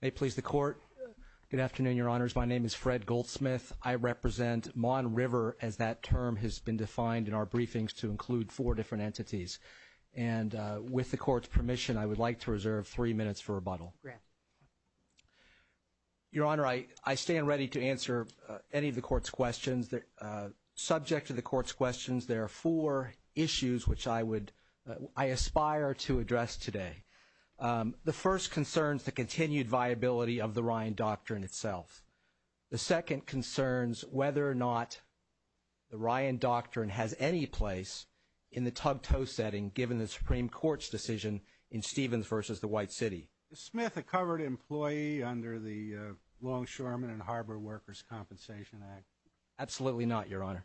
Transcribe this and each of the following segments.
May it please the Court. Good afternoon, Your Honors. My name is Fred Goldsmith. I represent Mon River as that term has been defined in our briefings to include four different entities. And with the Court's permission, I would like to reserve three minutes for rebuttal. Your Honor, I stand ready to answer any of the Court's questions. Subject to the Court's issues, which I aspire to address today, the first concerns the continued viability of the Ryan Doctrine itself. The second concerns whether or not the Ryan Doctrine has any place in the tug-toe setting, given the Supreme Court's decision in Stevens v. the White City. Is Smith a covered employee under the Longshoremen and Harbor Workers' Compensation Act? Absolutely not, Your Honor.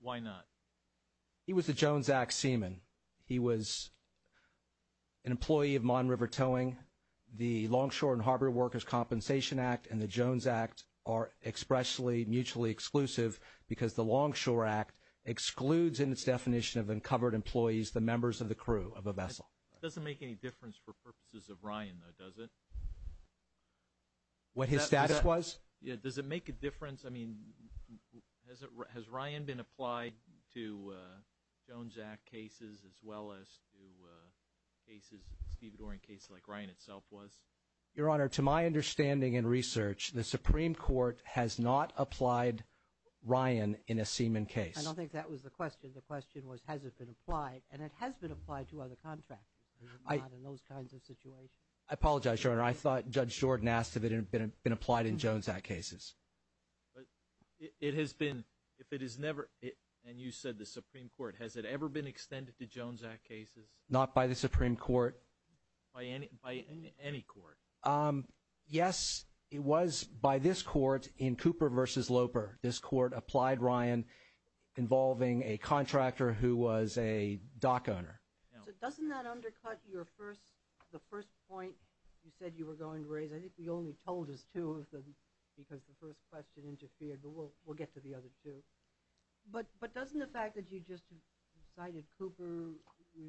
Why not? He was a Jones Act seaman. He was an employee of Mon River Towing. The Longshoremen and Harbor Workers' Compensation Act and the Jones Act are expressly mutually exclusive because the Longshore Act excludes in its definition of uncovered employees the members of the crew of a vessel. It doesn't make any difference for purposes of Ryan, though, does it? What his status was? Yeah, does it make a difference? I mean, has Ryan been applied to Jones Act cases as well as to cases, Steve Dorian cases like Ryan itself was? Your Honor, to my understanding and research, the Supreme Court has not applied Ryan in a seaman case. I don't think that was the question. The question was, has it been applied? And it has been applied to other contractors, but not in those kinds of situations. I apologize, Your Honor. I thought Judge Jordan asked if it had been applied in Jones Act cases. But it has been, if it is never, and you said the Supreme Court, has it ever been extended to Jones Act cases? Not by the Supreme Court. By any court? Yes, it was by this court in Cooper v. Loper. This court applied Ryan involving a contractor who was a dock owner. So doesn't that undercut your first, the first point you said you were going to raise? I think you only told us two of them because the first question interfered, but we'll get to the other two. But doesn't the fact that you just cited Cooper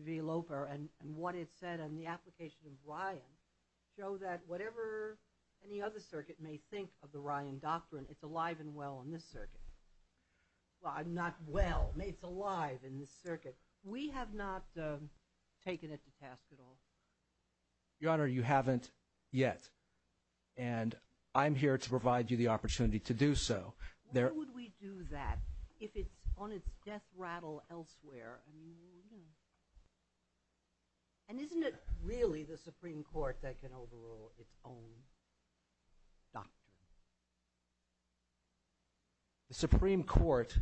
v. Loper and what it said on the application of Ryan show that whatever any other circuit may think of the Ryan doctrine, it's alive and well in this circuit? Well, not well, it's alive in this circuit. We have not taken it to task at all. Your Honor, you haven't yet. And I'm here to provide you the opportunity to do so. Why would we do that if it's on its death rattle elsewhere? And isn't it really the Supreme Court that can overrule its own doctrine? The Supreme Court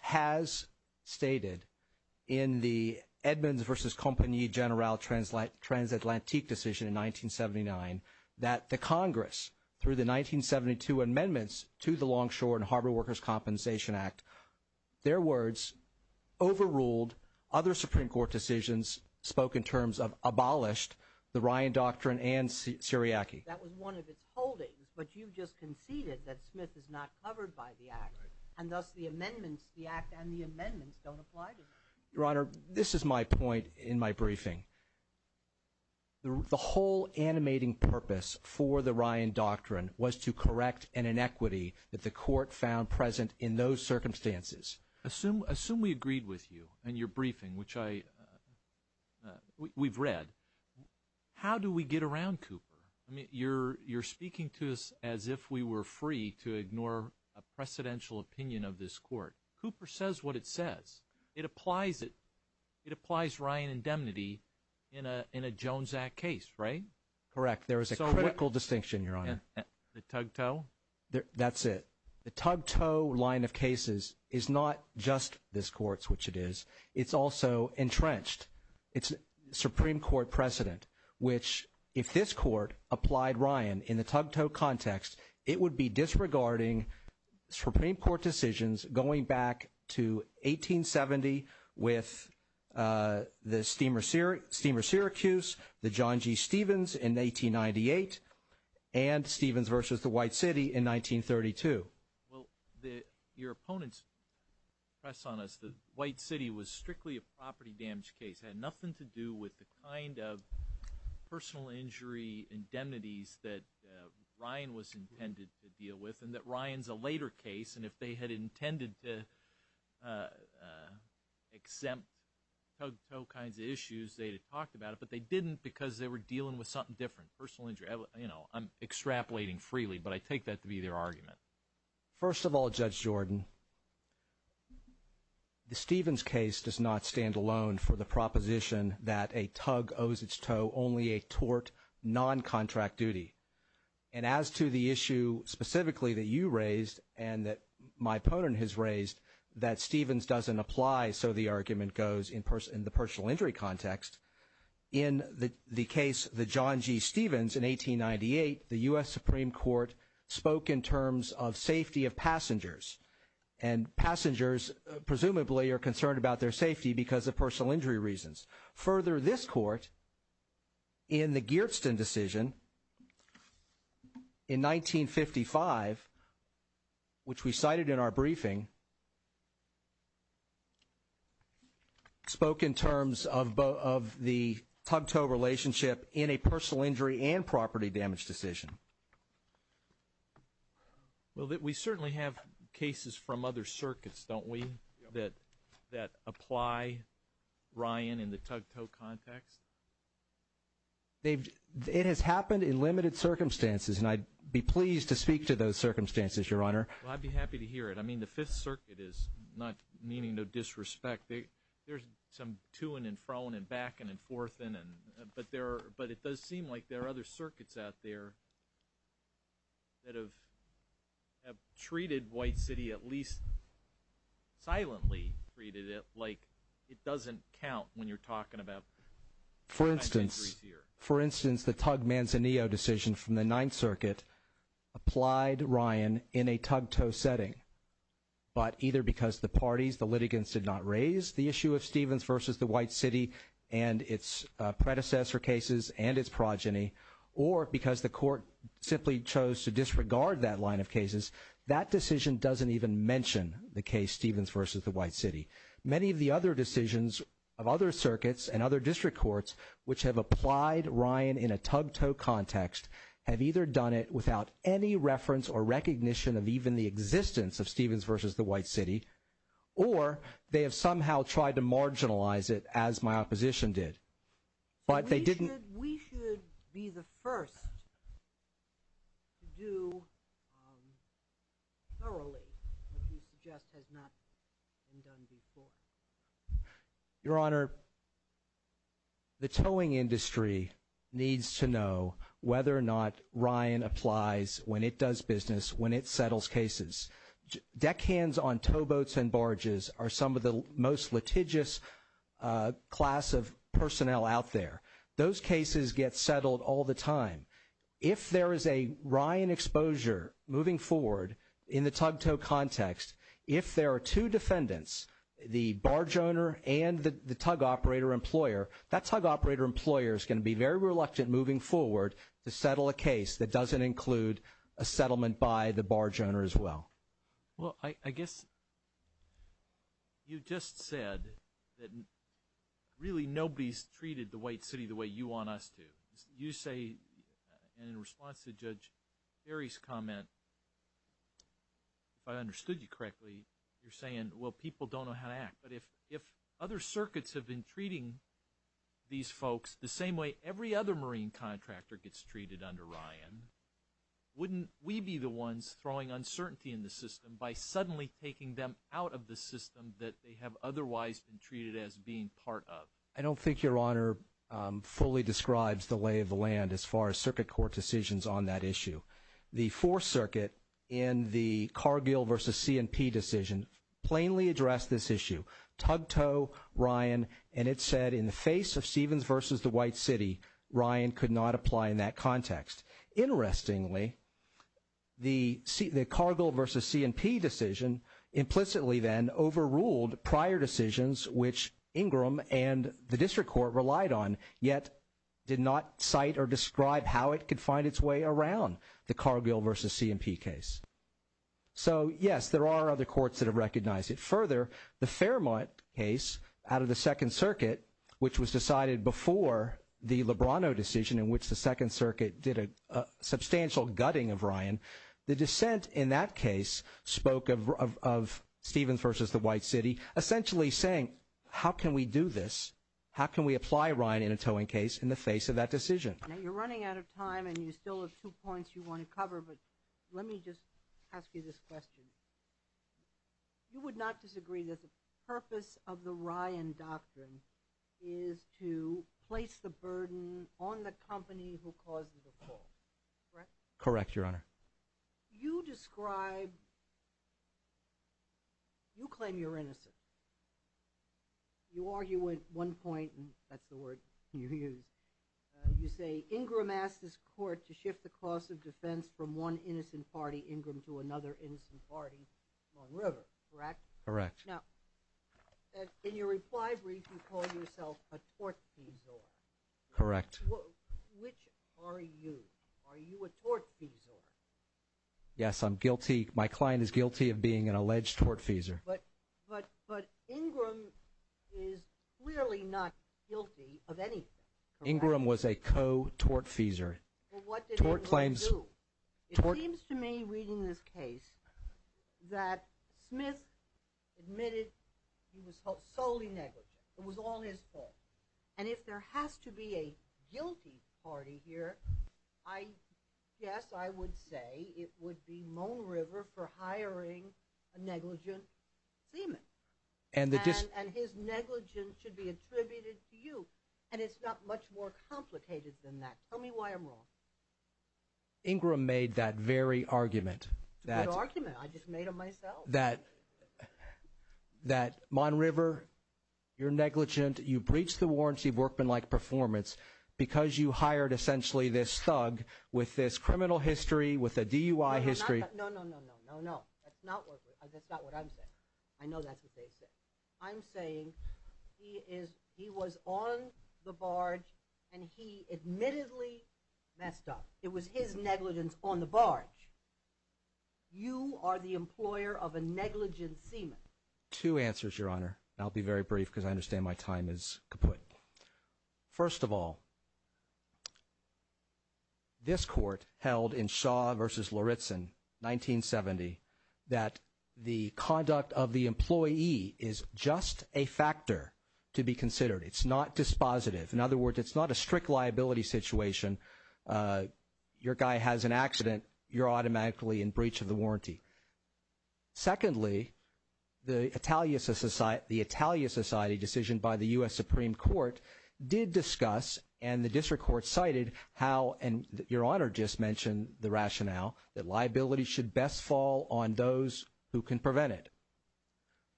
has stated in the Edmonds v. Company General Transatlantic decision in 1979 that the Congress, through the 1972 amendments to the Longshore and Harbor Workers' Compensation Act, their words overruled other Supreme Court decisions spoke in terms of abolished the Ryan doctrine and Syriac. That was one of its holdings, but you just conceded that Smith is not covered by the act. And thus the amendments, the act and the amendments don't apply to him. Your Honor, this is my point in my briefing. The whole animating purpose for the Ryan doctrine was to correct an inequity that the court found present in those circumstances. Assume we agreed with you and your briefing, which we've read. How do we get around Cooper? I mean, you're speaking to us as if we were free to ignore a precedential opinion of this court. Cooper says what it says. It applies it. It applies Ryan indemnity in a Jones Act case, right? Correct. There is a critical distinction, Your Honor. The tug tow? That's it. The tug tow line of cases is not just this court's, which it is. It's also entrenched. It's Supreme Court precedent, which if this court applied Ryan in the tug tow context, it would be disregarding Supreme Court decisions going back to 1870 with the Steamer Syracuse, the John G. Stevens in 1898, and Stevens versus the White City in 1932. Well, your opponent's press on us, the White City was strictly a property damage case. It had nothing to do with the kind of personal injury indemnities that Ryan was intended to deal with and that Ryan's a later case, and if they had intended to exempt tug tow kinds of issues, they'd have talked about it, but they didn't because they were dealing with something different, personal injury. I'm extrapolating freely, but I take that to be their argument. First of all, Judge Jordan, the Stevens case does not stand alone for the proposition that a tug owes its tow only a tort non-contract duty, and as to the issue specifically that you raised and that my so the argument goes in the personal injury context, in the case, the John G. Stevens in 1898, the U.S. Supreme Court spoke in terms of safety of passengers, and passengers presumably are concerned about their safety because of personal injury reasons. Further, this court in the Geertsen decision in 1955, which we cited in our briefing, spoke in terms of the tug tow relationship in a personal injury and property damage decision. Well, we certainly have cases from other circuits, don't we, that apply Ryan, in the tug tow context? It has happened in limited circumstances, and I'd be pleased to speak to those circumstances, Your Honor. Well, I'd be happy to hear it. I mean, the Fifth Circuit is not meaning no disrespect. There's some to-ing and fro-ing and back-ing and forth-ing, but it does seem like there are other circuits out there that have treated White City, at least silently treated like it doesn't count when you're talking about personal injuries here. For instance, the tug Manzanillo decision from the Ninth Circuit applied Ryan in a tug tow setting, but either because the parties, the litigants, did not raise the issue of Stevens versus the White City and its predecessor cases and its progeny, or because the court simply chose to disregard that line of cases, that decision doesn't even mention the case Stevens versus the White City. Many of the other decisions of other circuits and other district courts, which have applied Ryan in a tug tow context, have either done it without any reference or recognition of even the existence of Stevens versus the White City, or they have somehow tried to marginalize it, as my opposition did, but they didn't. We should be the first to do thoroughly what you suggest has not been done before. Your Honor, the towing industry needs to know whether or not Ryan applies when it does business, when it settles cases. Deckhands on towboats and barges are some of the most litigious class of personnel out there. Those cases get settled all the time. If there is a Ryan exposure moving forward in the tug tow context, if there are two defendants, the barge owner and the tug operator employer, that tug operator employer is going to be very reluctant moving forward to settle a case that doesn't include a settlement by the barge owner as well. Well, I guess you just said that really nobody's treated the White City the way you want us to. You say, and in response to Judge Berry's comment, if I understood you correctly, you're saying, well, people don't know how to act. But if other circuits have been treating these folks the same way every other marine contractor gets treated under Ryan, wouldn't we be the ones throwing uncertainty in the system by suddenly taking them out of the system that they have otherwise been treated as being part of? I don't think Your Honor fully describes the lay of the land as far as circuit court decisions on that issue. The Fourth Circuit in the Cargill v. C&P decision plainly addressed this issue, tug tow, Ryan, and it said in the face of Stevens v. the White City, Ryan could not apply in that context. Interestingly, the Cargill v. C&P decision implicitly then overruled prior decisions which Ingram and the District Court relied on, yet did not cite or describe how it could find its way around the Cargill v. C&P case. So, yes, there are other courts that have recognized it. Further, the Fairmont case out of the Second Circuit, which was decided before the Lebrano decision in which the Second Circuit did a substantial gutting of Ryan, the dissent in that case spoke of Stevens v. the White City essentially saying, how can we do this? How can we apply Ryan in a towing case in the face of that decision? You're running out of time and you still have two points you want to cover, but let me just ask you this question. You would not disagree that the purpose of the Ryan doctrine is to place the burden on the company who causes the fall, correct? Correct, Your Honor. You describe, you claim you're innocent. You argue at one point, and that's the word you use, you say Ingram asked his court to shift the cost of defense from one innocent party, Ingram, to another innocent party, Long River, correct? Correct. Now, in your reply brief, you call yourself a tortfeasor. Correct. Which are you? Are you a tortfeasor? Yes, I'm guilty. My client is guilty of being an alleged tortfeasor. But Ingram is clearly not guilty of anything. Ingram was a co-tortfeasor. Well, what did Ingram do? It seems to me reading this case that Smith admitted he was solely negligent. It was all his fault. And if there has to be a guess, I would say it would be Mon River for hiring a negligent seaman. And his negligence should be attributed to you. And it's not much more complicated than that. Tell me why I'm wrong. Ingram made that very argument. Good argument. I just made it myself. That Mon River, you're negligent, you breached the warranty of workmanlike performance because you hired essentially this thug with this criminal history, with a DUI history. No, no, no, no, no, no. That's not what I'm saying. I know that's what they said. I'm saying he was on the barge and he admittedly messed up. It was his negligence on the barge. You are the employer of a negligent seaman. Two answers, Your Honor. I'll be very brief because I understand my time is caput. First of all, this court held in Shaw versus Lauritzen, 1970, that the conduct of the employee is just a factor to be considered. It's not dispositive. In other words, it's not a strict liability situation. Your guy has an accident, you're Supreme Court did discuss and the district court cited how, and Your Honor just mentioned the rationale, that liability should best fall on those who can prevent it.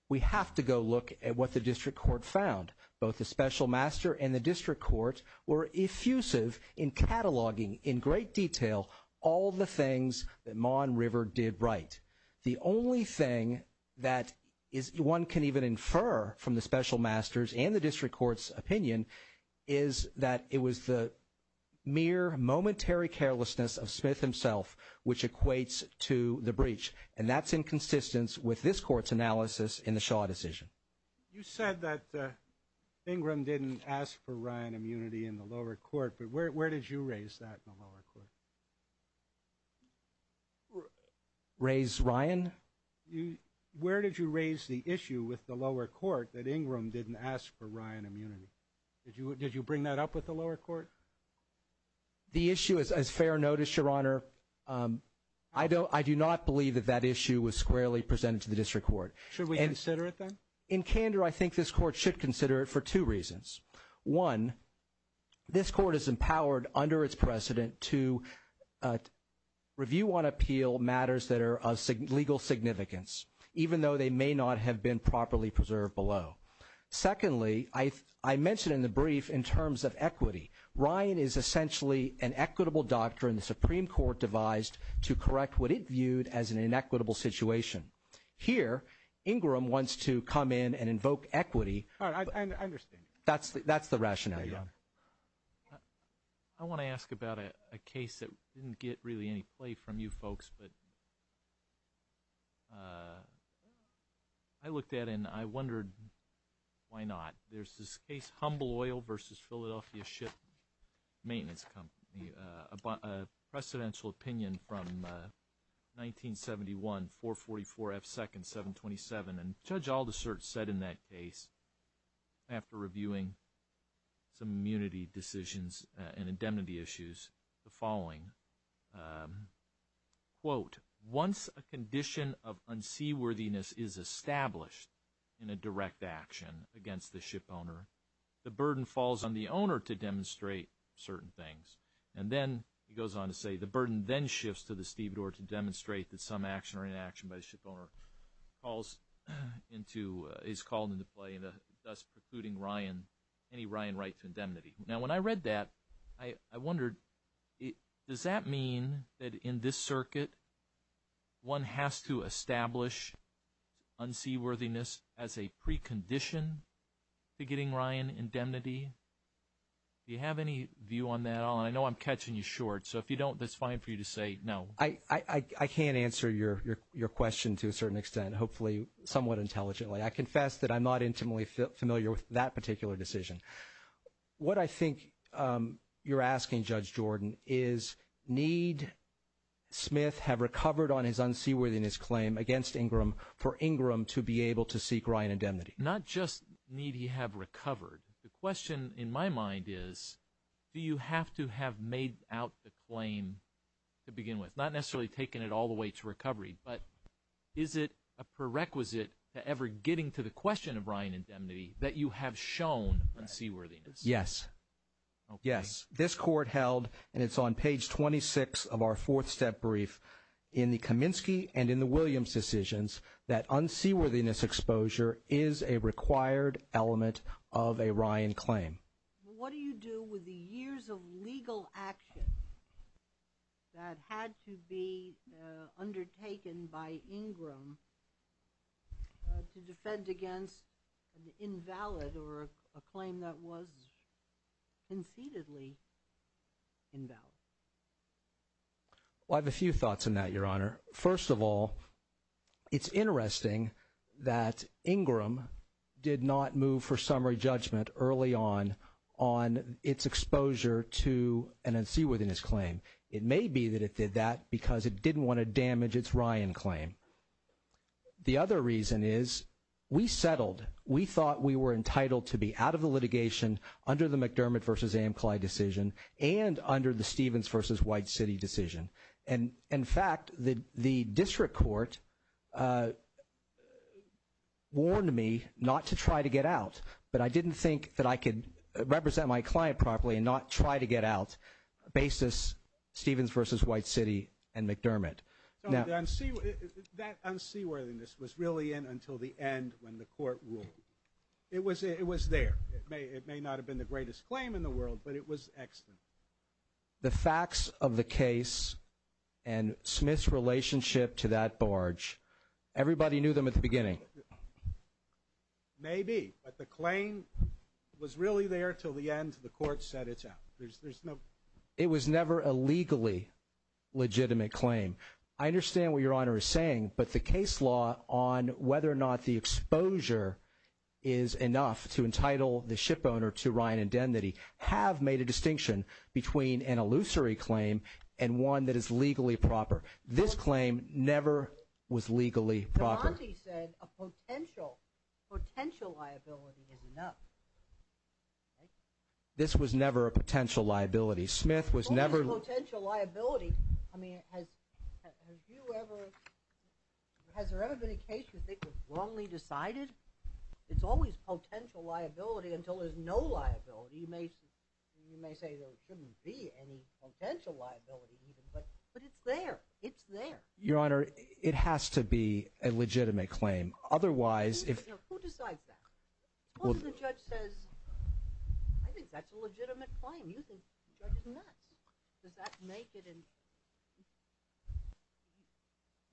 We have to go look at what the district court found. Both the special master and the district court were effusive in cataloging in great detail all the things that Mon River did right. The only thing that one can even infer from the special masters and the district court's opinion is that it was the mere momentary carelessness of Smith himself, which equates to the breach. And that's in consistence with this court's analysis in the Shaw decision. You said that Ingram didn't ask for Ryan immunity in the lower court, but where did you raise that in the lower court? Raise Ryan? Where did you raise the issue with the lower court that Ingram didn't ask for Ryan immunity? Did you bring that up with the lower court? The issue is as fair notice, Your Honor. I do not believe that that issue was squarely presented to the district court. Should we consider it then? In candor, I think this court should consider it for two reasons. One, this court is empowered under its precedent to review on appeal matters that are of legal significance, even though they may not have been properly preserved below. Secondly, I mentioned in the brief in terms of equity, Ryan is essentially an equitable doctrine the Supreme Court devised to correct what it viewed as an inequitable situation. Here, Ingram wants to come in and invoke equity. That's the rationale, Your Honor. I want to ask about a case that didn't get really any play from you folks, but I looked at it and I wondered why not. There's this case, Humble Oil versus Philadelphia Ship Maintenance Company, a precedential opinion from 1971, 444 F. Second, 727, and Judge Aldisert said in that case, after reviewing some immunity decisions and indemnity issues, the following, quote, once a condition of unseaworthiness is established in a direct action against the ship owner, the burden falls on the owner to demonstrate certain things. And then he goes on to say, the burden then shifts to the stevedore to demonstrate that action or inaction by the ship owner is called into play, thus precluding any Ryan right to indemnity. Now, when I read that, I wondered, does that mean that in this circuit one has to establish unseaworthiness as a precondition to getting Ryan indemnity? Do you have any view on that at all? And I know I'm catching you short, so if you don't, it's fine for you to say no. I can't answer your question to a certain extent, hopefully somewhat intelligently. I confess that I'm not intimately familiar with that particular decision. What I think you're asking, Judge Jordan, is need Smith have recovered on his unseaworthiness claim against Ingram for Ingram to be able to seek Ryan indemnity? Not just need he have recovered. The question in my mind is, do you have to have made out the claim to begin with? Not necessarily taking it all the way to recovery, but is it a prerequisite to ever getting to the question of Ryan indemnity that you have shown unseaworthiness? Yes. Yes. This court held, and it's on page 26 of our fourth step brief, in the Kaminsky and in the Williams decisions that unseaworthiness exposure is a What do you do with the years of legal action that had to be undertaken by Ingram to defend against an invalid or a claim that was concededly invalid? Well, I have a few thoughts on that, Your Honor. First of all, it's interesting that Ingram did not move for summary judgment early on on its exposure to an unseaworthiness claim. It may be that it did that because it didn't want to damage its Ryan claim. The other reason is we settled. We thought we were entitled to be out of the litigation under the McDermott v. Amcly decision and under the Stevens v. White City decision. And in fact, the district court warned me not to try to get out, but I didn't think that I could represent my client properly and not try to get out basis Stevens v. White City and McDermott. That unseaworthiness was really in until the end when the court ruled. It was there. It may not have been the greatest claim in the world, but it was excellent. The facts of the case and Smith's relationship to that barge, everybody knew them at the beginning. Maybe, but the claim was really there till the end. The court said it's out. It was never a legally legitimate claim. I understand what Your Honor is saying, but the case law on whether or not the exposure is enough to entitle the ship owner to Ryan have made a distinction between an illusory claim and one that is legally proper. This claim never was legally proper. This was never a potential liability. Smith was never a potential liability. Has there ever been a case you think was wrongly decided? It's always potential liability until there's no liability. You may say there shouldn't be any potential liability, but it's there. It's there. Your Honor, it has to be a legitimate claim. Otherwise, who decides that? Suppose the judge says, I think that's a legitimate claim. You think the judge is nuts. Does that make it?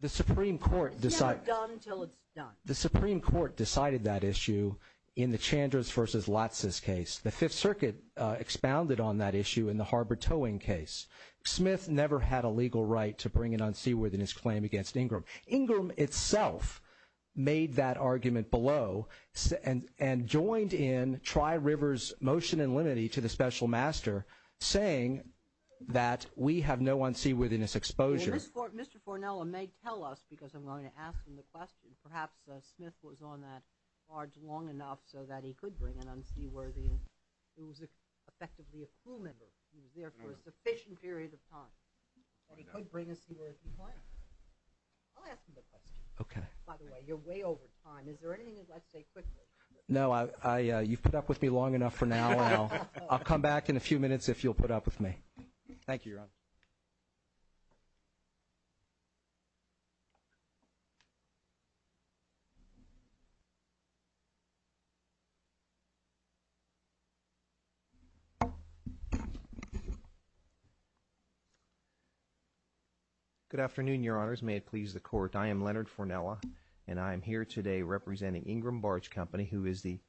It's never done until it's done. The Supreme Court decided that issue in the Chandra's versus Latsis case. The Fifth Circuit expounded on that issue in the harbor towing case. Smith never had a legal right to bring an unseaworthiness claim against Ingram. Ingram itself made that argument below and joined in Tri-River's motion in limine to the special master saying that we have no unseaworthiness exposure. Mr. Fornella may tell us because I'm going to ask him the question. Perhaps Smith was on that barge long enough so that he could bring an unseaworthiness. He was effectively a crew member. He was there for a sufficient period of time and he could bring a seaworthiness claim. I'll ask him the question. By the way, you're way over time. Is there anything you'd like to say quickly? No, you've put up with me long enough for now. I'll come back in a few minutes if you'll put up with me. Thank you, Your Honor. Good afternoon, Your Honors. May it please the Court. I am Leonard Fornella and I am here today representing Ingram Barge Company, who is the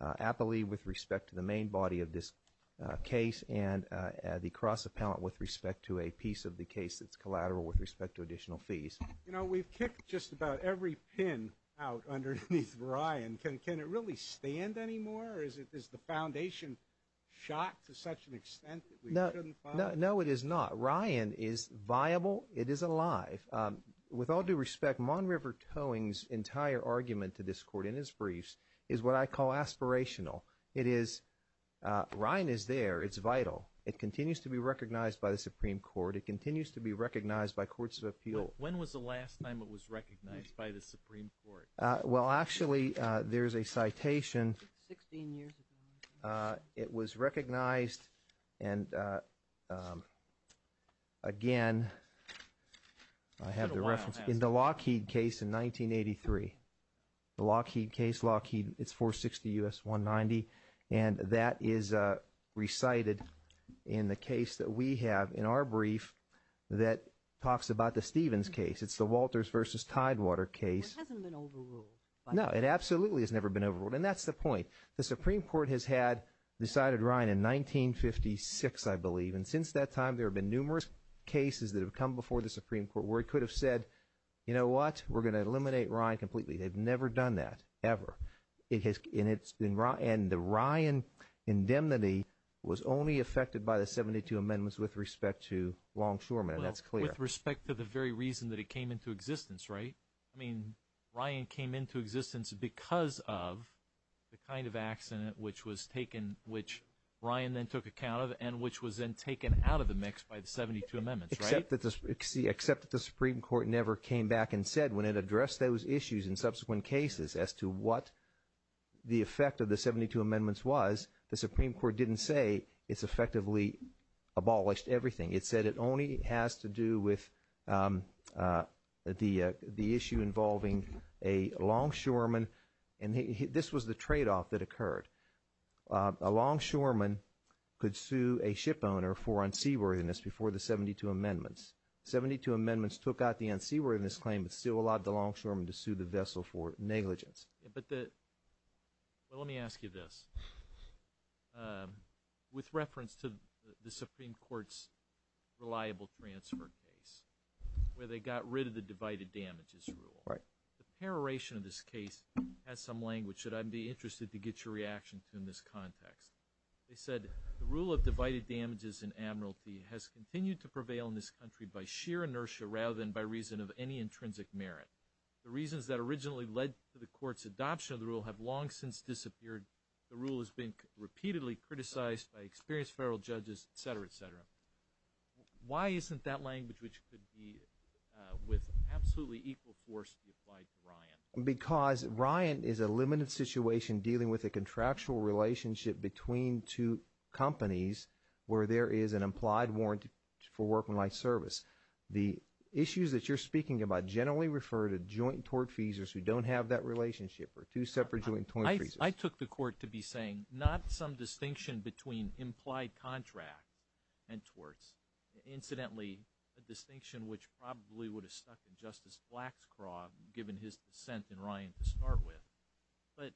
appellee with respect to the main body of this case and the cross-appellant with respect to a piece of the case that's collateral with respect to additional fees. You know, we've kicked just about every pin out underneath Ryan. Can it really stand anymore? Is the foundation shot to such an extent that we shouldn't find it? No, it is not. Mon River Towing's entire argument to this Court in his briefs is what I call aspirational. It is Ryan is there. It's vital. It continues to be recognized by the Supreme Court. It continues to be recognized by Courts of Appeal. When was the last time it was recognized by the Supreme Court? Well, actually, there's a citation. Sixteen years ago. It was recognized and again, I have the reference in the Lockheed case in 1983. The Lockheed case, Lockheed, it's 460 U.S. 190 and that is recited in the case that we have in our brief that talks about the Stevens case. It's the Walters versus Tidewater case. It hasn't been overruled. No, it absolutely has never been overruled and that's the point. The Supreme Court has had decided Ryan in 1956, I believe, and since that time, there have been numerous cases that have come before the Supreme Court where it could have said, you know what, we're going to eliminate Ryan completely. They've never done that, ever. And the Ryan indemnity was only affected by the 72 amendments with respect to Longshoreman and that's clear. With respect to the very reason that it came into existence, right? I mean, Ryan came into existence because of the kind of accident which was taken, which Ryan then took account of and which was then taken out of the mix by the 72 amendments, right? Except that the Supreme Court never came back and said when it addressed those issues in subsequent cases as to what the effect of the 72 amendments was, the Supreme Court didn't say it's effectively abolished everything. It said it only has to do with the issue involving a longshoreman and this was the trade-off that occurred. A longshoreman could sue a ship owner for unseaworthiness before the 72 amendments. 72 amendments took out the unseaworthiness claim but still allowed the longshoreman to sue the vessel for negligence. But let me ask you this. With reference to the Supreme Court's reliable transfer case where they got rid of the divided damages rule, the peroration of this case has some language that I'd be interested to get your reaction to in this context. They said the rule of divided damages and admiralty has continued to prevail in this country by sheer inertia rather than by reason of any intrinsic merit. The reasons that originally led to the court's adoption of the rule have long since disappeared. The rule has been repeatedly criticized by experienced federal judges, et cetera, et cetera. Why isn't that language which could be with absolutely equal force applied to Ryan? Because Ryan is a limited situation dealing with a contractual relationship between two companies where there is an implied warrant for work and life service. The issues that you're speaking about generally refer to joint tort feasors who don't have that relationship or two separate joint tort feasors. I took the court to be saying not some distinction between implied contract and torts. Incidentally, a distinction which probably would have stuck in Justice Black's craw given his dissent in Ryan to start with. But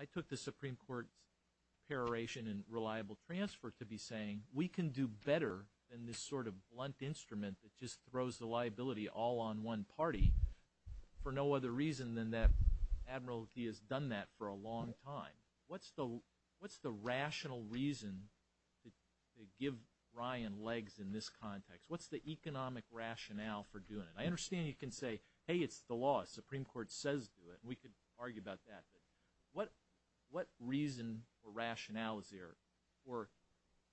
I took the Supreme Court's peroration and reliable transfer to be saying we can do better than this sort of blunt instrument that just throws the liability all on one party for no other reason than that admiralty has done that for a long time. What's the rational reason to give Ryan legs in this context? What's the economic rationale for doing it? I understand you can say, hey, it's the law. The Supreme Court says do it. We could argue about that. But what reason or rationale is there for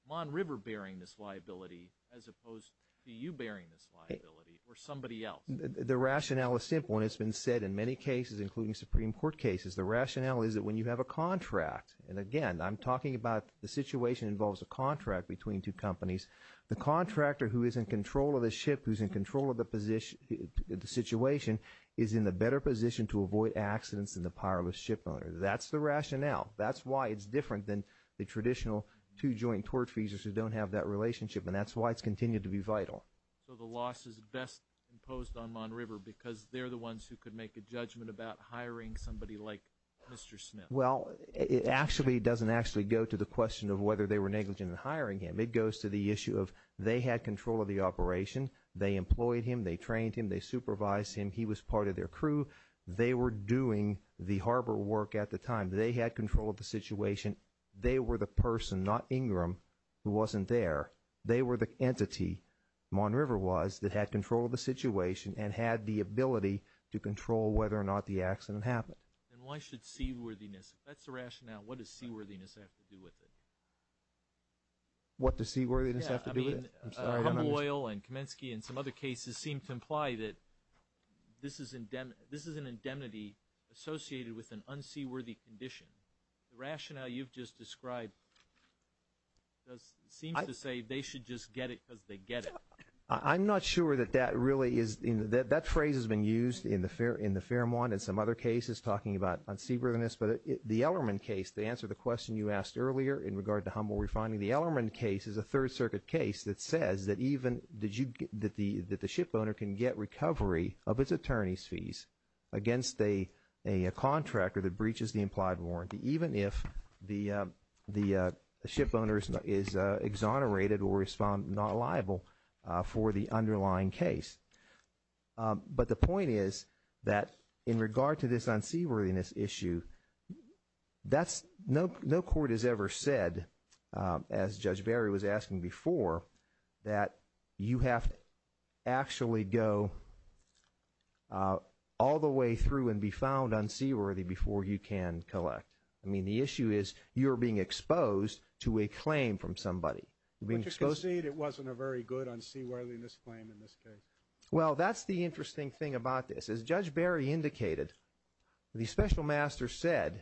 Mon River bearing this liability as opposed to you bearing this liability or somebody else? The rationale is simple. And it's been said in many cases, including Supreme Court cases, the rationale is that when you have a contract, and again, I'm talking about the situation involves a contract between two companies, the contractor who is in control of the ship, who's in control of the situation, is in a better position to avoid accidents than the shipowner. That's the rationale. That's why it's different than the traditional two joint torque fuses who don't have that relationship. And that's why it's continued to be vital. So the loss is best imposed on Mon River because they're the ones who could make a judgment about hiring somebody like Mr. Smith. Well, it actually doesn't actually go to the question of whether they were negligent in hiring him. It goes to the issue of they had control of the operation. They employed him. They trained him. They supervised him. He was part of their crew. They were doing the harbor work at the time. They had control of the situation. They were the person, not Ingram, who wasn't there. They were the entity, Mon River was, that had control of the situation and had the ability to control whether or not the accident happened. And why should seaworthiness, if that's the rationale, what does seaworthiness have to do with it? What does seaworthiness have to do with it? Yeah, I mean, Humble Oil and Kamensky and some other cases seem to imply that this is an indemnity associated with an unseaworthy condition. The rationale you've just described does seem to say they should just get it because they get it. I'm not sure that that really is, that phrase has been used in the Fairmont and some other cases talking about unseaworthiness. But the Ellermann case, to answer the question you asked earlier in regard to Humble Refining, the Ellermann case is a Third Circuit case that says that even, that the shipowner can get recovery of his attorney's fees against a contractor that breaches the implied warranty, even if the shipowner is exonerated or is found not liable for the underlying case. But the point is that in regard to this unseaworthiness issue, that's, no court has ever said, as Judge Barry was asking before, that you have to actually go all the way through and be found unseaworthy before you can collect. I mean, the issue is you're being exposed to a claim from somebody. But you concede it wasn't a very good unseaworthiness in this case. Well, that's the interesting thing about this. As Judge Barry indicated, the Special Master said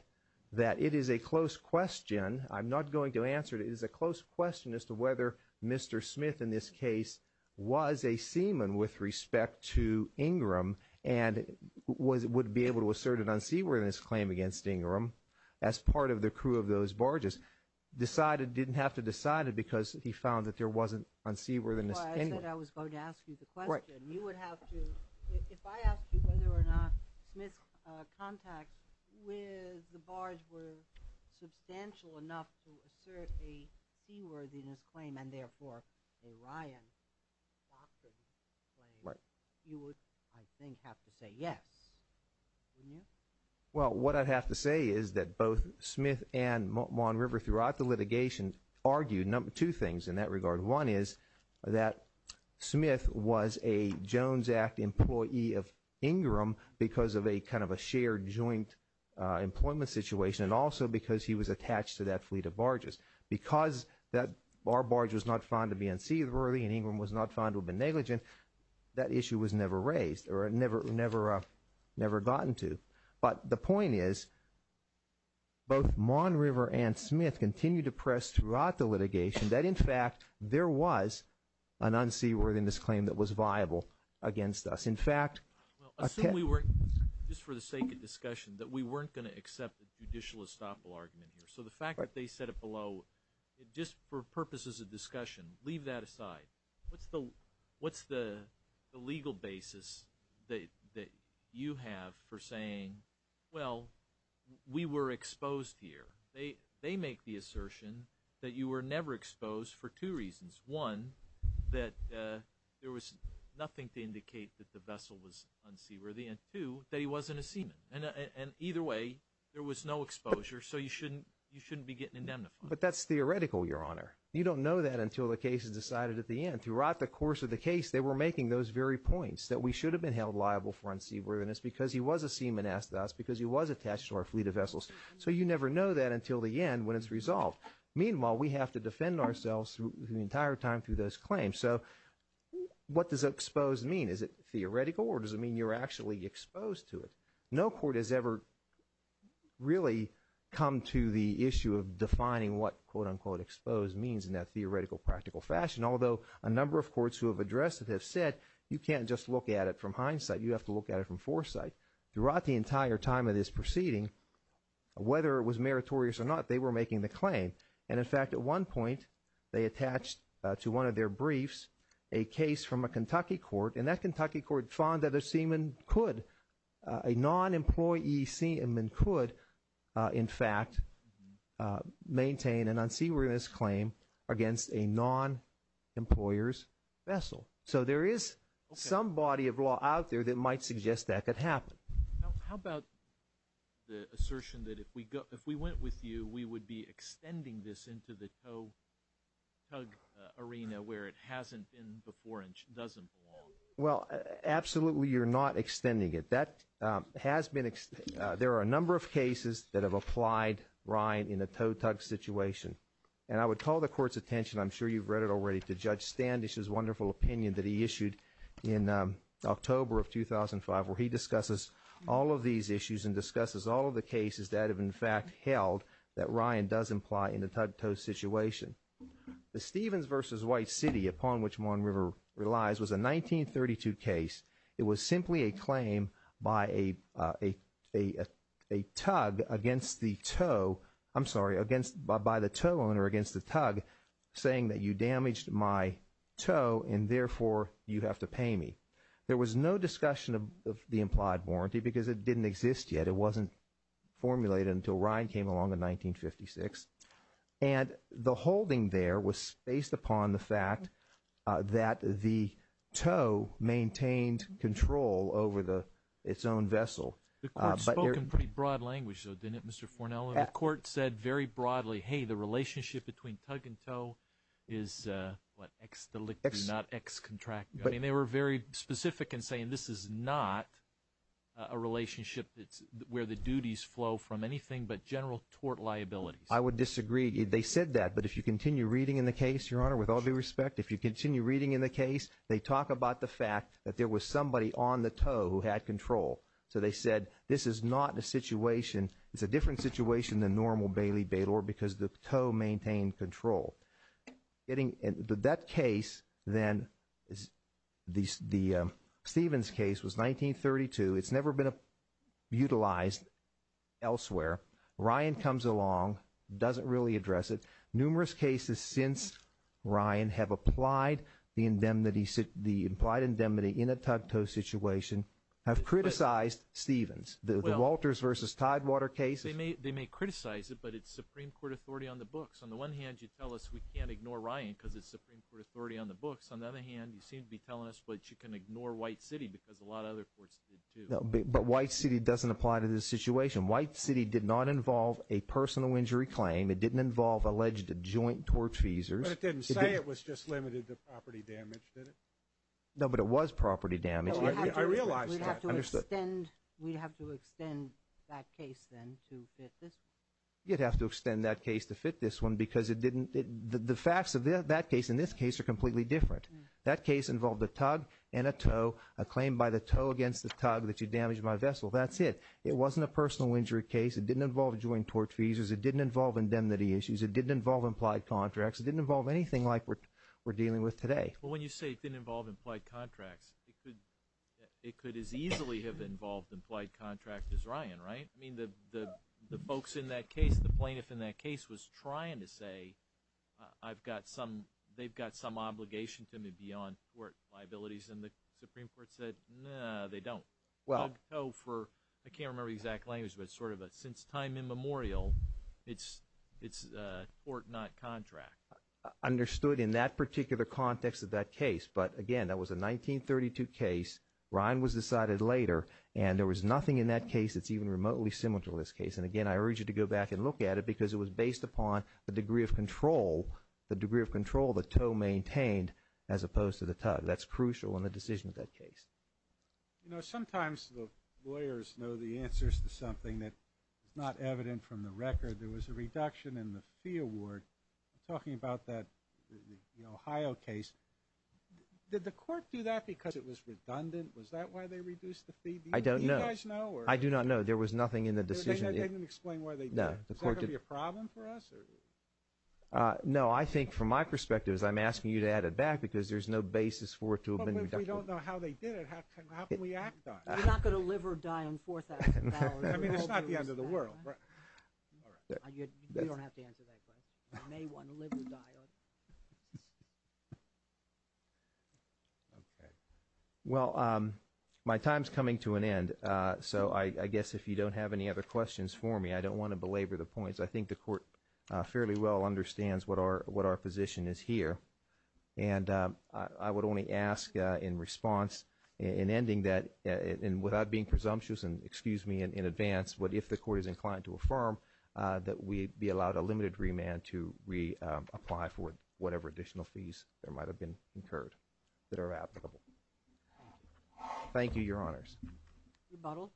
that it is a close question, I'm not going to answer it, it is a close question as to whether Mr. Smith in this case was a seaman with respect to Ingram and would be able to assert an unseaworthiness claim against Ingram as part of the crew of those barges. Decided, didn't have to decide it because he found that there wasn't unseaworthiness. I said I was going to ask you the question. You would have to, if I asked you whether or not Smith's contacts with the barge were substantial enough to assert a seaworthiness claim and therefore a Ryan doctrine claim, you would, I think, have to say yes. Wouldn't you? Well, what I'd have to say is that both Smith and Mon River throughout the litigation argued two things in that regard. One is that Smith was a Jones Act employee of Ingram because of a kind of a shared joint employment situation and also because he was attached to that fleet of barges. Because our barge was not found to be unseaworthy and Ingram was not found to have been negligent, that issue was never raised or never gotten to. But the point is both Mon River and Smith continued to press throughout the litigation that, in fact, there was an unseaworthiness claim that was viable against us. In fact... Assume we were, just for the sake of discussion, that we weren't going to accept the judicial estoppel argument here. So the fact that they said it below, just for purposes of discussion, leave that aside. What's the legal basis that you have for saying, well, we were exposed here? They make the assertion that you were never exposed for two reasons. One, that there was nothing to indicate that the vessel was unseaworthy, and two, that he wasn't a seaman. And either way, there was no exposure, so you shouldn't be getting indemnified. But that's theoretical, Your Honor. You don't know that until the case is decided at the end. Throughout the course of the case, they were making those very points, that we should have been held liable for unseaworthiness because he was a seaman, asked us, because he was attached to our fleet of vessels. So you never know that until the end when it's resolved. Meanwhile, we have to defend ourselves the entire time through those claims. So what does exposed mean? Is it theoretical, or does it mean you're actually exposed to it? No court has ever really come to the issue of defining what, quote, unquote, exposed means in that theoretical, practical fashion. Although a number of courts who have addressed it have said, you can't just look at it from hindsight. You have to look at it from foresight. Throughout the entire time of this proceeding, whether it was meritorious or not, they were making the claim. And in fact, at one point, they attached to one of their briefs a case from a Kentucky court, and that Kentucky court found that a seaman could, a non-employee seaman could, in fact, maintain an unseaworthiness claim against a non-employer's vessel. So there is some body of law out there that might suggest that could happen. Now, how about the assertion that if we went with you, we would be extending this into the tow-tug arena where it hasn't been before and doesn't belong? Well, absolutely, you're not extending it. There are a number of cases that have applied, Ryan, in a tow-tug situation. And I would call the court's attention, I'm sure you've read it already, to Judge Standish's wonderful opinion that he issued in October of 2005, where he discusses all of these issues and discusses all of the cases that have, in fact, held that Ryan does imply in the tug-tow situation. The Stevens v. White City, upon which Mon River relies, was a 1932 case. It was simply a claim by a tug against the tow, I'm sorry, by the tow owner against the tug, saying that you damaged my tow and therefore you have to pay me. There was no discussion of the implied warranty because it didn't exist yet. It wasn't formulated until Ryan came along in 1956. And the holding there was based upon the fact that the tow maintained control over its own vessel. The court spoke in pretty broad language, though, didn't it, Mr. Fornello? The court said very broadly, hey, the relationship between tug and tow is, what, ex delicto, not ex contracto. I mean, they were very specific in saying this is not a relationship where the duties flow from anything but general tort liabilities. I would disagree. They said that. But if you continue reading in the case, Your Honor, with all due respect, if you continue reading in the case, they talk about the fact that there was somebody on the tow who had control. So they said this is not a situation, it's a different situation than normal bailey-baylor because the tow maintained control. Getting into that case, then, the Stevens case was 1932. It's never been utilized elsewhere. Ryan comes along, doesn't really address it. Numerous cases since Ryan have applied the indemnity, the implied indemnity in a tug-tow situation have criticized Stevens. The Walters v. Tidewater case. They may criticize it, but it's Supreme Court authority on the books. On one hand, you tell us we can't ignore Ryan because it's Supreme Court authority on the books. On the other hand, you seem to be telling us what you can ignore White City because a lot of other courts did, too. But White City doesn't apply to this situation. White City did not involve a personal injury claim. It didn't involve alleged joint tort feasors. But it didn't say it was just limited to property damage, did it? No, but it was property damage. I realize that. We'd have to extend that case, then, to fit this one. You'd have to extend that case to fit this one because it didn't, the facts of that case and this case are completely different. That case involved a tug and a tow, a claim by the tow against the tug that you damaged my vessel. That's it. It wasn't a personal injury case. It didn't involve joint tort feasors. It didn't involve indemnity issues. It didn't involve implied contracts. It didn't involve anything like we're dealing with today. Well, when you say it didn't involve implied contracts, it could as easily have involved implied contracts as Ryan, right? I mean, the folks in that case, the plaintiff in that case was trying to say, I've got some, they've got some obligation to me beyond tort liabilities. And the Supreme Court said, no, they don't. Well, I can't remember the exact language, but it's sort of a since time immemorial, it's a tort, not contract. Understood in that particular context of that case. But again, that was a 1932 case. Ryan was decided later and there was nothing in that case that's even remotely similar to this case. And again, I urge you to go back and look at it because it was based upon the degree of control, the degree of control the tow maintained as opposed to the tug. That's crucial in the decision of that case. You know, sometimes the lawyers know the answers to something that is not evident from the record. There was a reduction in the fee award. I'm talking about the Ohio case. Did the court do that because it was redundant? Was that why they reduced the fee? I don't know. I do not know. There was nothing in the decision. They didn't explain why they did it. Is that going to be a problem for us? No, I think from my perspective, as I'm asking you to add it back because there's no basis for it to have been reducted. But if we don't know how they did it, how can we act on it? We're not going to live or die on $4,000. I mean, it's not the end of the world. All right. You don't have to answer that question. You may want to live or die. Okay. Well, my time's coming to an end. So I guess if you don't have any other questions for me, I don't want to belabor the points. I think the court fairly well understands what our position is here. And I would only ask in response, in ending that, and without being presumptuous, excuse me, in advance, but if the court is inclined to affirm that we'd be allowed a limited remand to reapply for whatever additional fees there might have been incurred that are applicable. Thank you, Your Honors. Rebuttal.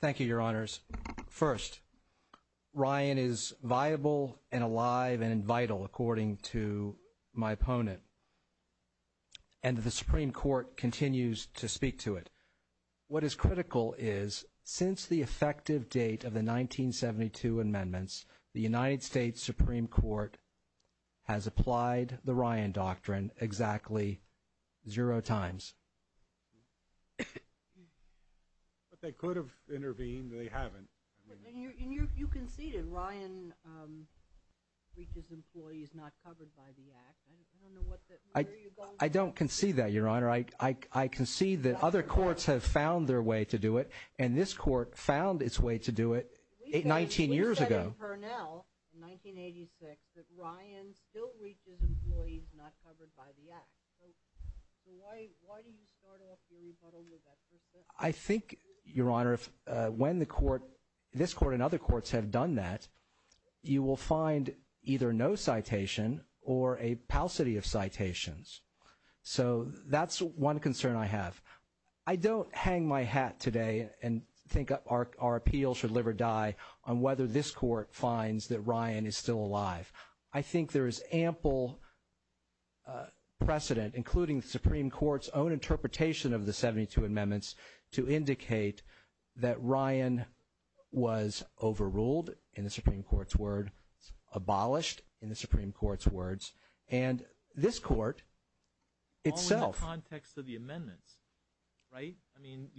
Thank you, Your Honors. First, Ryan is viable and alive and vital, according to my opponent. And the Supreme Court continues to speak to it. What is critical is, since the effective date of the 1972 amendments, the United States Supreme Court has applied the Ryan Doctrine exactly zero times. But they could have intervened. They haven't. And you conceded. Ryan reaches employees not covered by the act. I don't concede that, Your Honor. I concede that other courts have found their way to do it. And this court found its way to do it 19 years ago. We said in Purnell in 1986 that Ryan still reaches employees not covered by the act. So why do you start off your rebuttal with that perception? I think, Your Honor, when this court and other courts have done that, you will find either no citation or a paucity of citations. So that's one concern I have. I don't hang my hat today and think our appeal should live or die on whether this court finds that Ryan is still alive. I think there is ample precedent, including the Supreme Court's own word, abolished in the Supreme Court's words. And this court itself. All in the context of the amendments, right? I mean,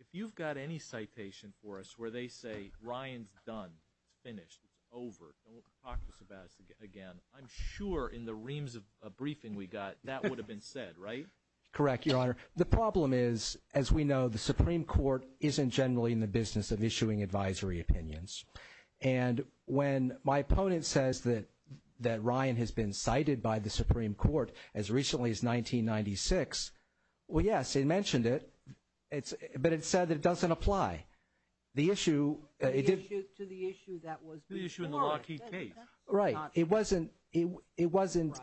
if you've got any citation for us where they say Ryan's done, it's finished, it's over, don't talk to us about it again, I'm sure in the reams of a briefing we got that would have been said, right? Correct, Your Honor. The problem is, as we know, the when my opponent says that Ryan has been cited by the Supreme Court as recently as 1996, well, yes, they mentioned it, but it said that it doesn't apply. The issue... To the issue that was before. The issue in the Lockheed case. Right. It wasn't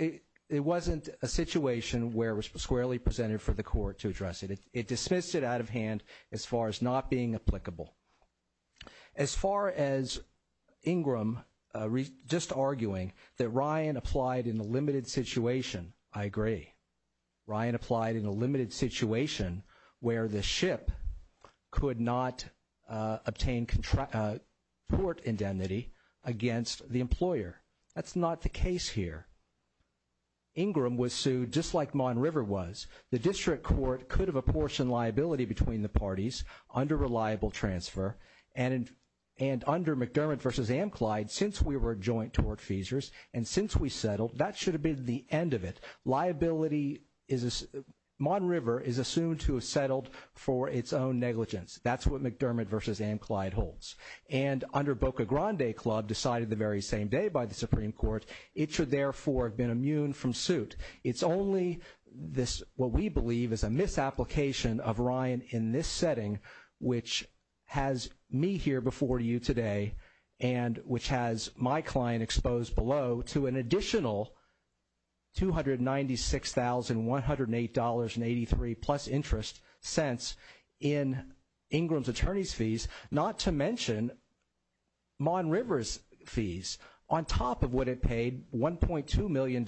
a situation where it was squarely presented for the court to address it. It was Ingram just arguing that Ryan applied in a limited situation. I agree. Ryan applied in a limited situation where the ship could not obtain port indemnity against the employer. That's not the case here. Ingram was sued just like Mon River was. The district court could have apportioned since we were joint tort feasors, and since we settled, that should have been the end of it. Liability is... Mon River is assumed to have settled for its own negligence. That's what McDermott v. Amclyde holds. And under Boca Grande Club decided the very same day by the Supreme Court, it should therefore have been immune from suit. It's only this, what we believe is a application of Ryan in this setting, which has me here before you today, and which has my client exposed below to an additional $296,108.83 plus interest cents in Ingram's attorney's fees, not to mention Mon River's fees on top of what it paid, $1.2 million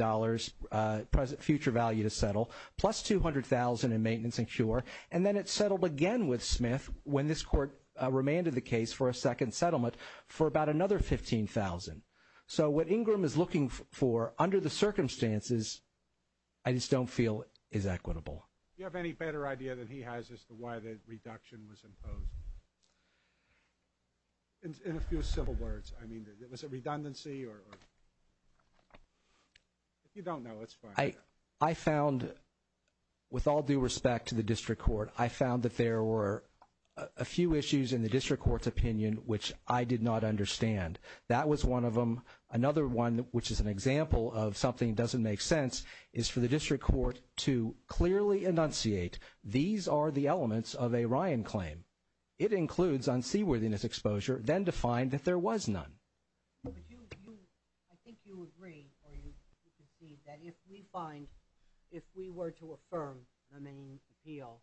future value to settle, plus $200,000 in maintenance and cure, and then it settled again with Smith when this court remanded the case for a second settlement for about another $15,000. So what Ingram is looking for under the circumstances, I just don't feel is equitable. Do you have any better idea than he has as to why the reduction was imposed? In a few simple words, I mean, was it redundancy or... If you don't know, that's fine. I found, with all due respect to the district court, I found that there were a few issues in the district court's opinion, which I did not understand. That was one of them. Another one, which is an example of something that doesn't make sense, is for the district court to clearly enunciate these are the elements of a Ryan claim. It includes unseaworthiness exposure, then to find that there was none. I think you agree or you concede that if we were to affirm the main appeal,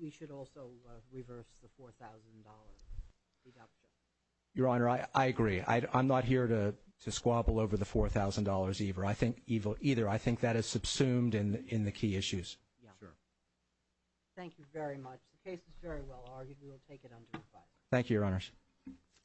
we should also reverse the $4,000 reduction. Your Honor, I agree. I'm not here to squabble over the $4,000 either. I think that is subsumed in the key issues. Sure. Thank you very much. The case is very well argued. We will take it under review. Thank you, Your Honors.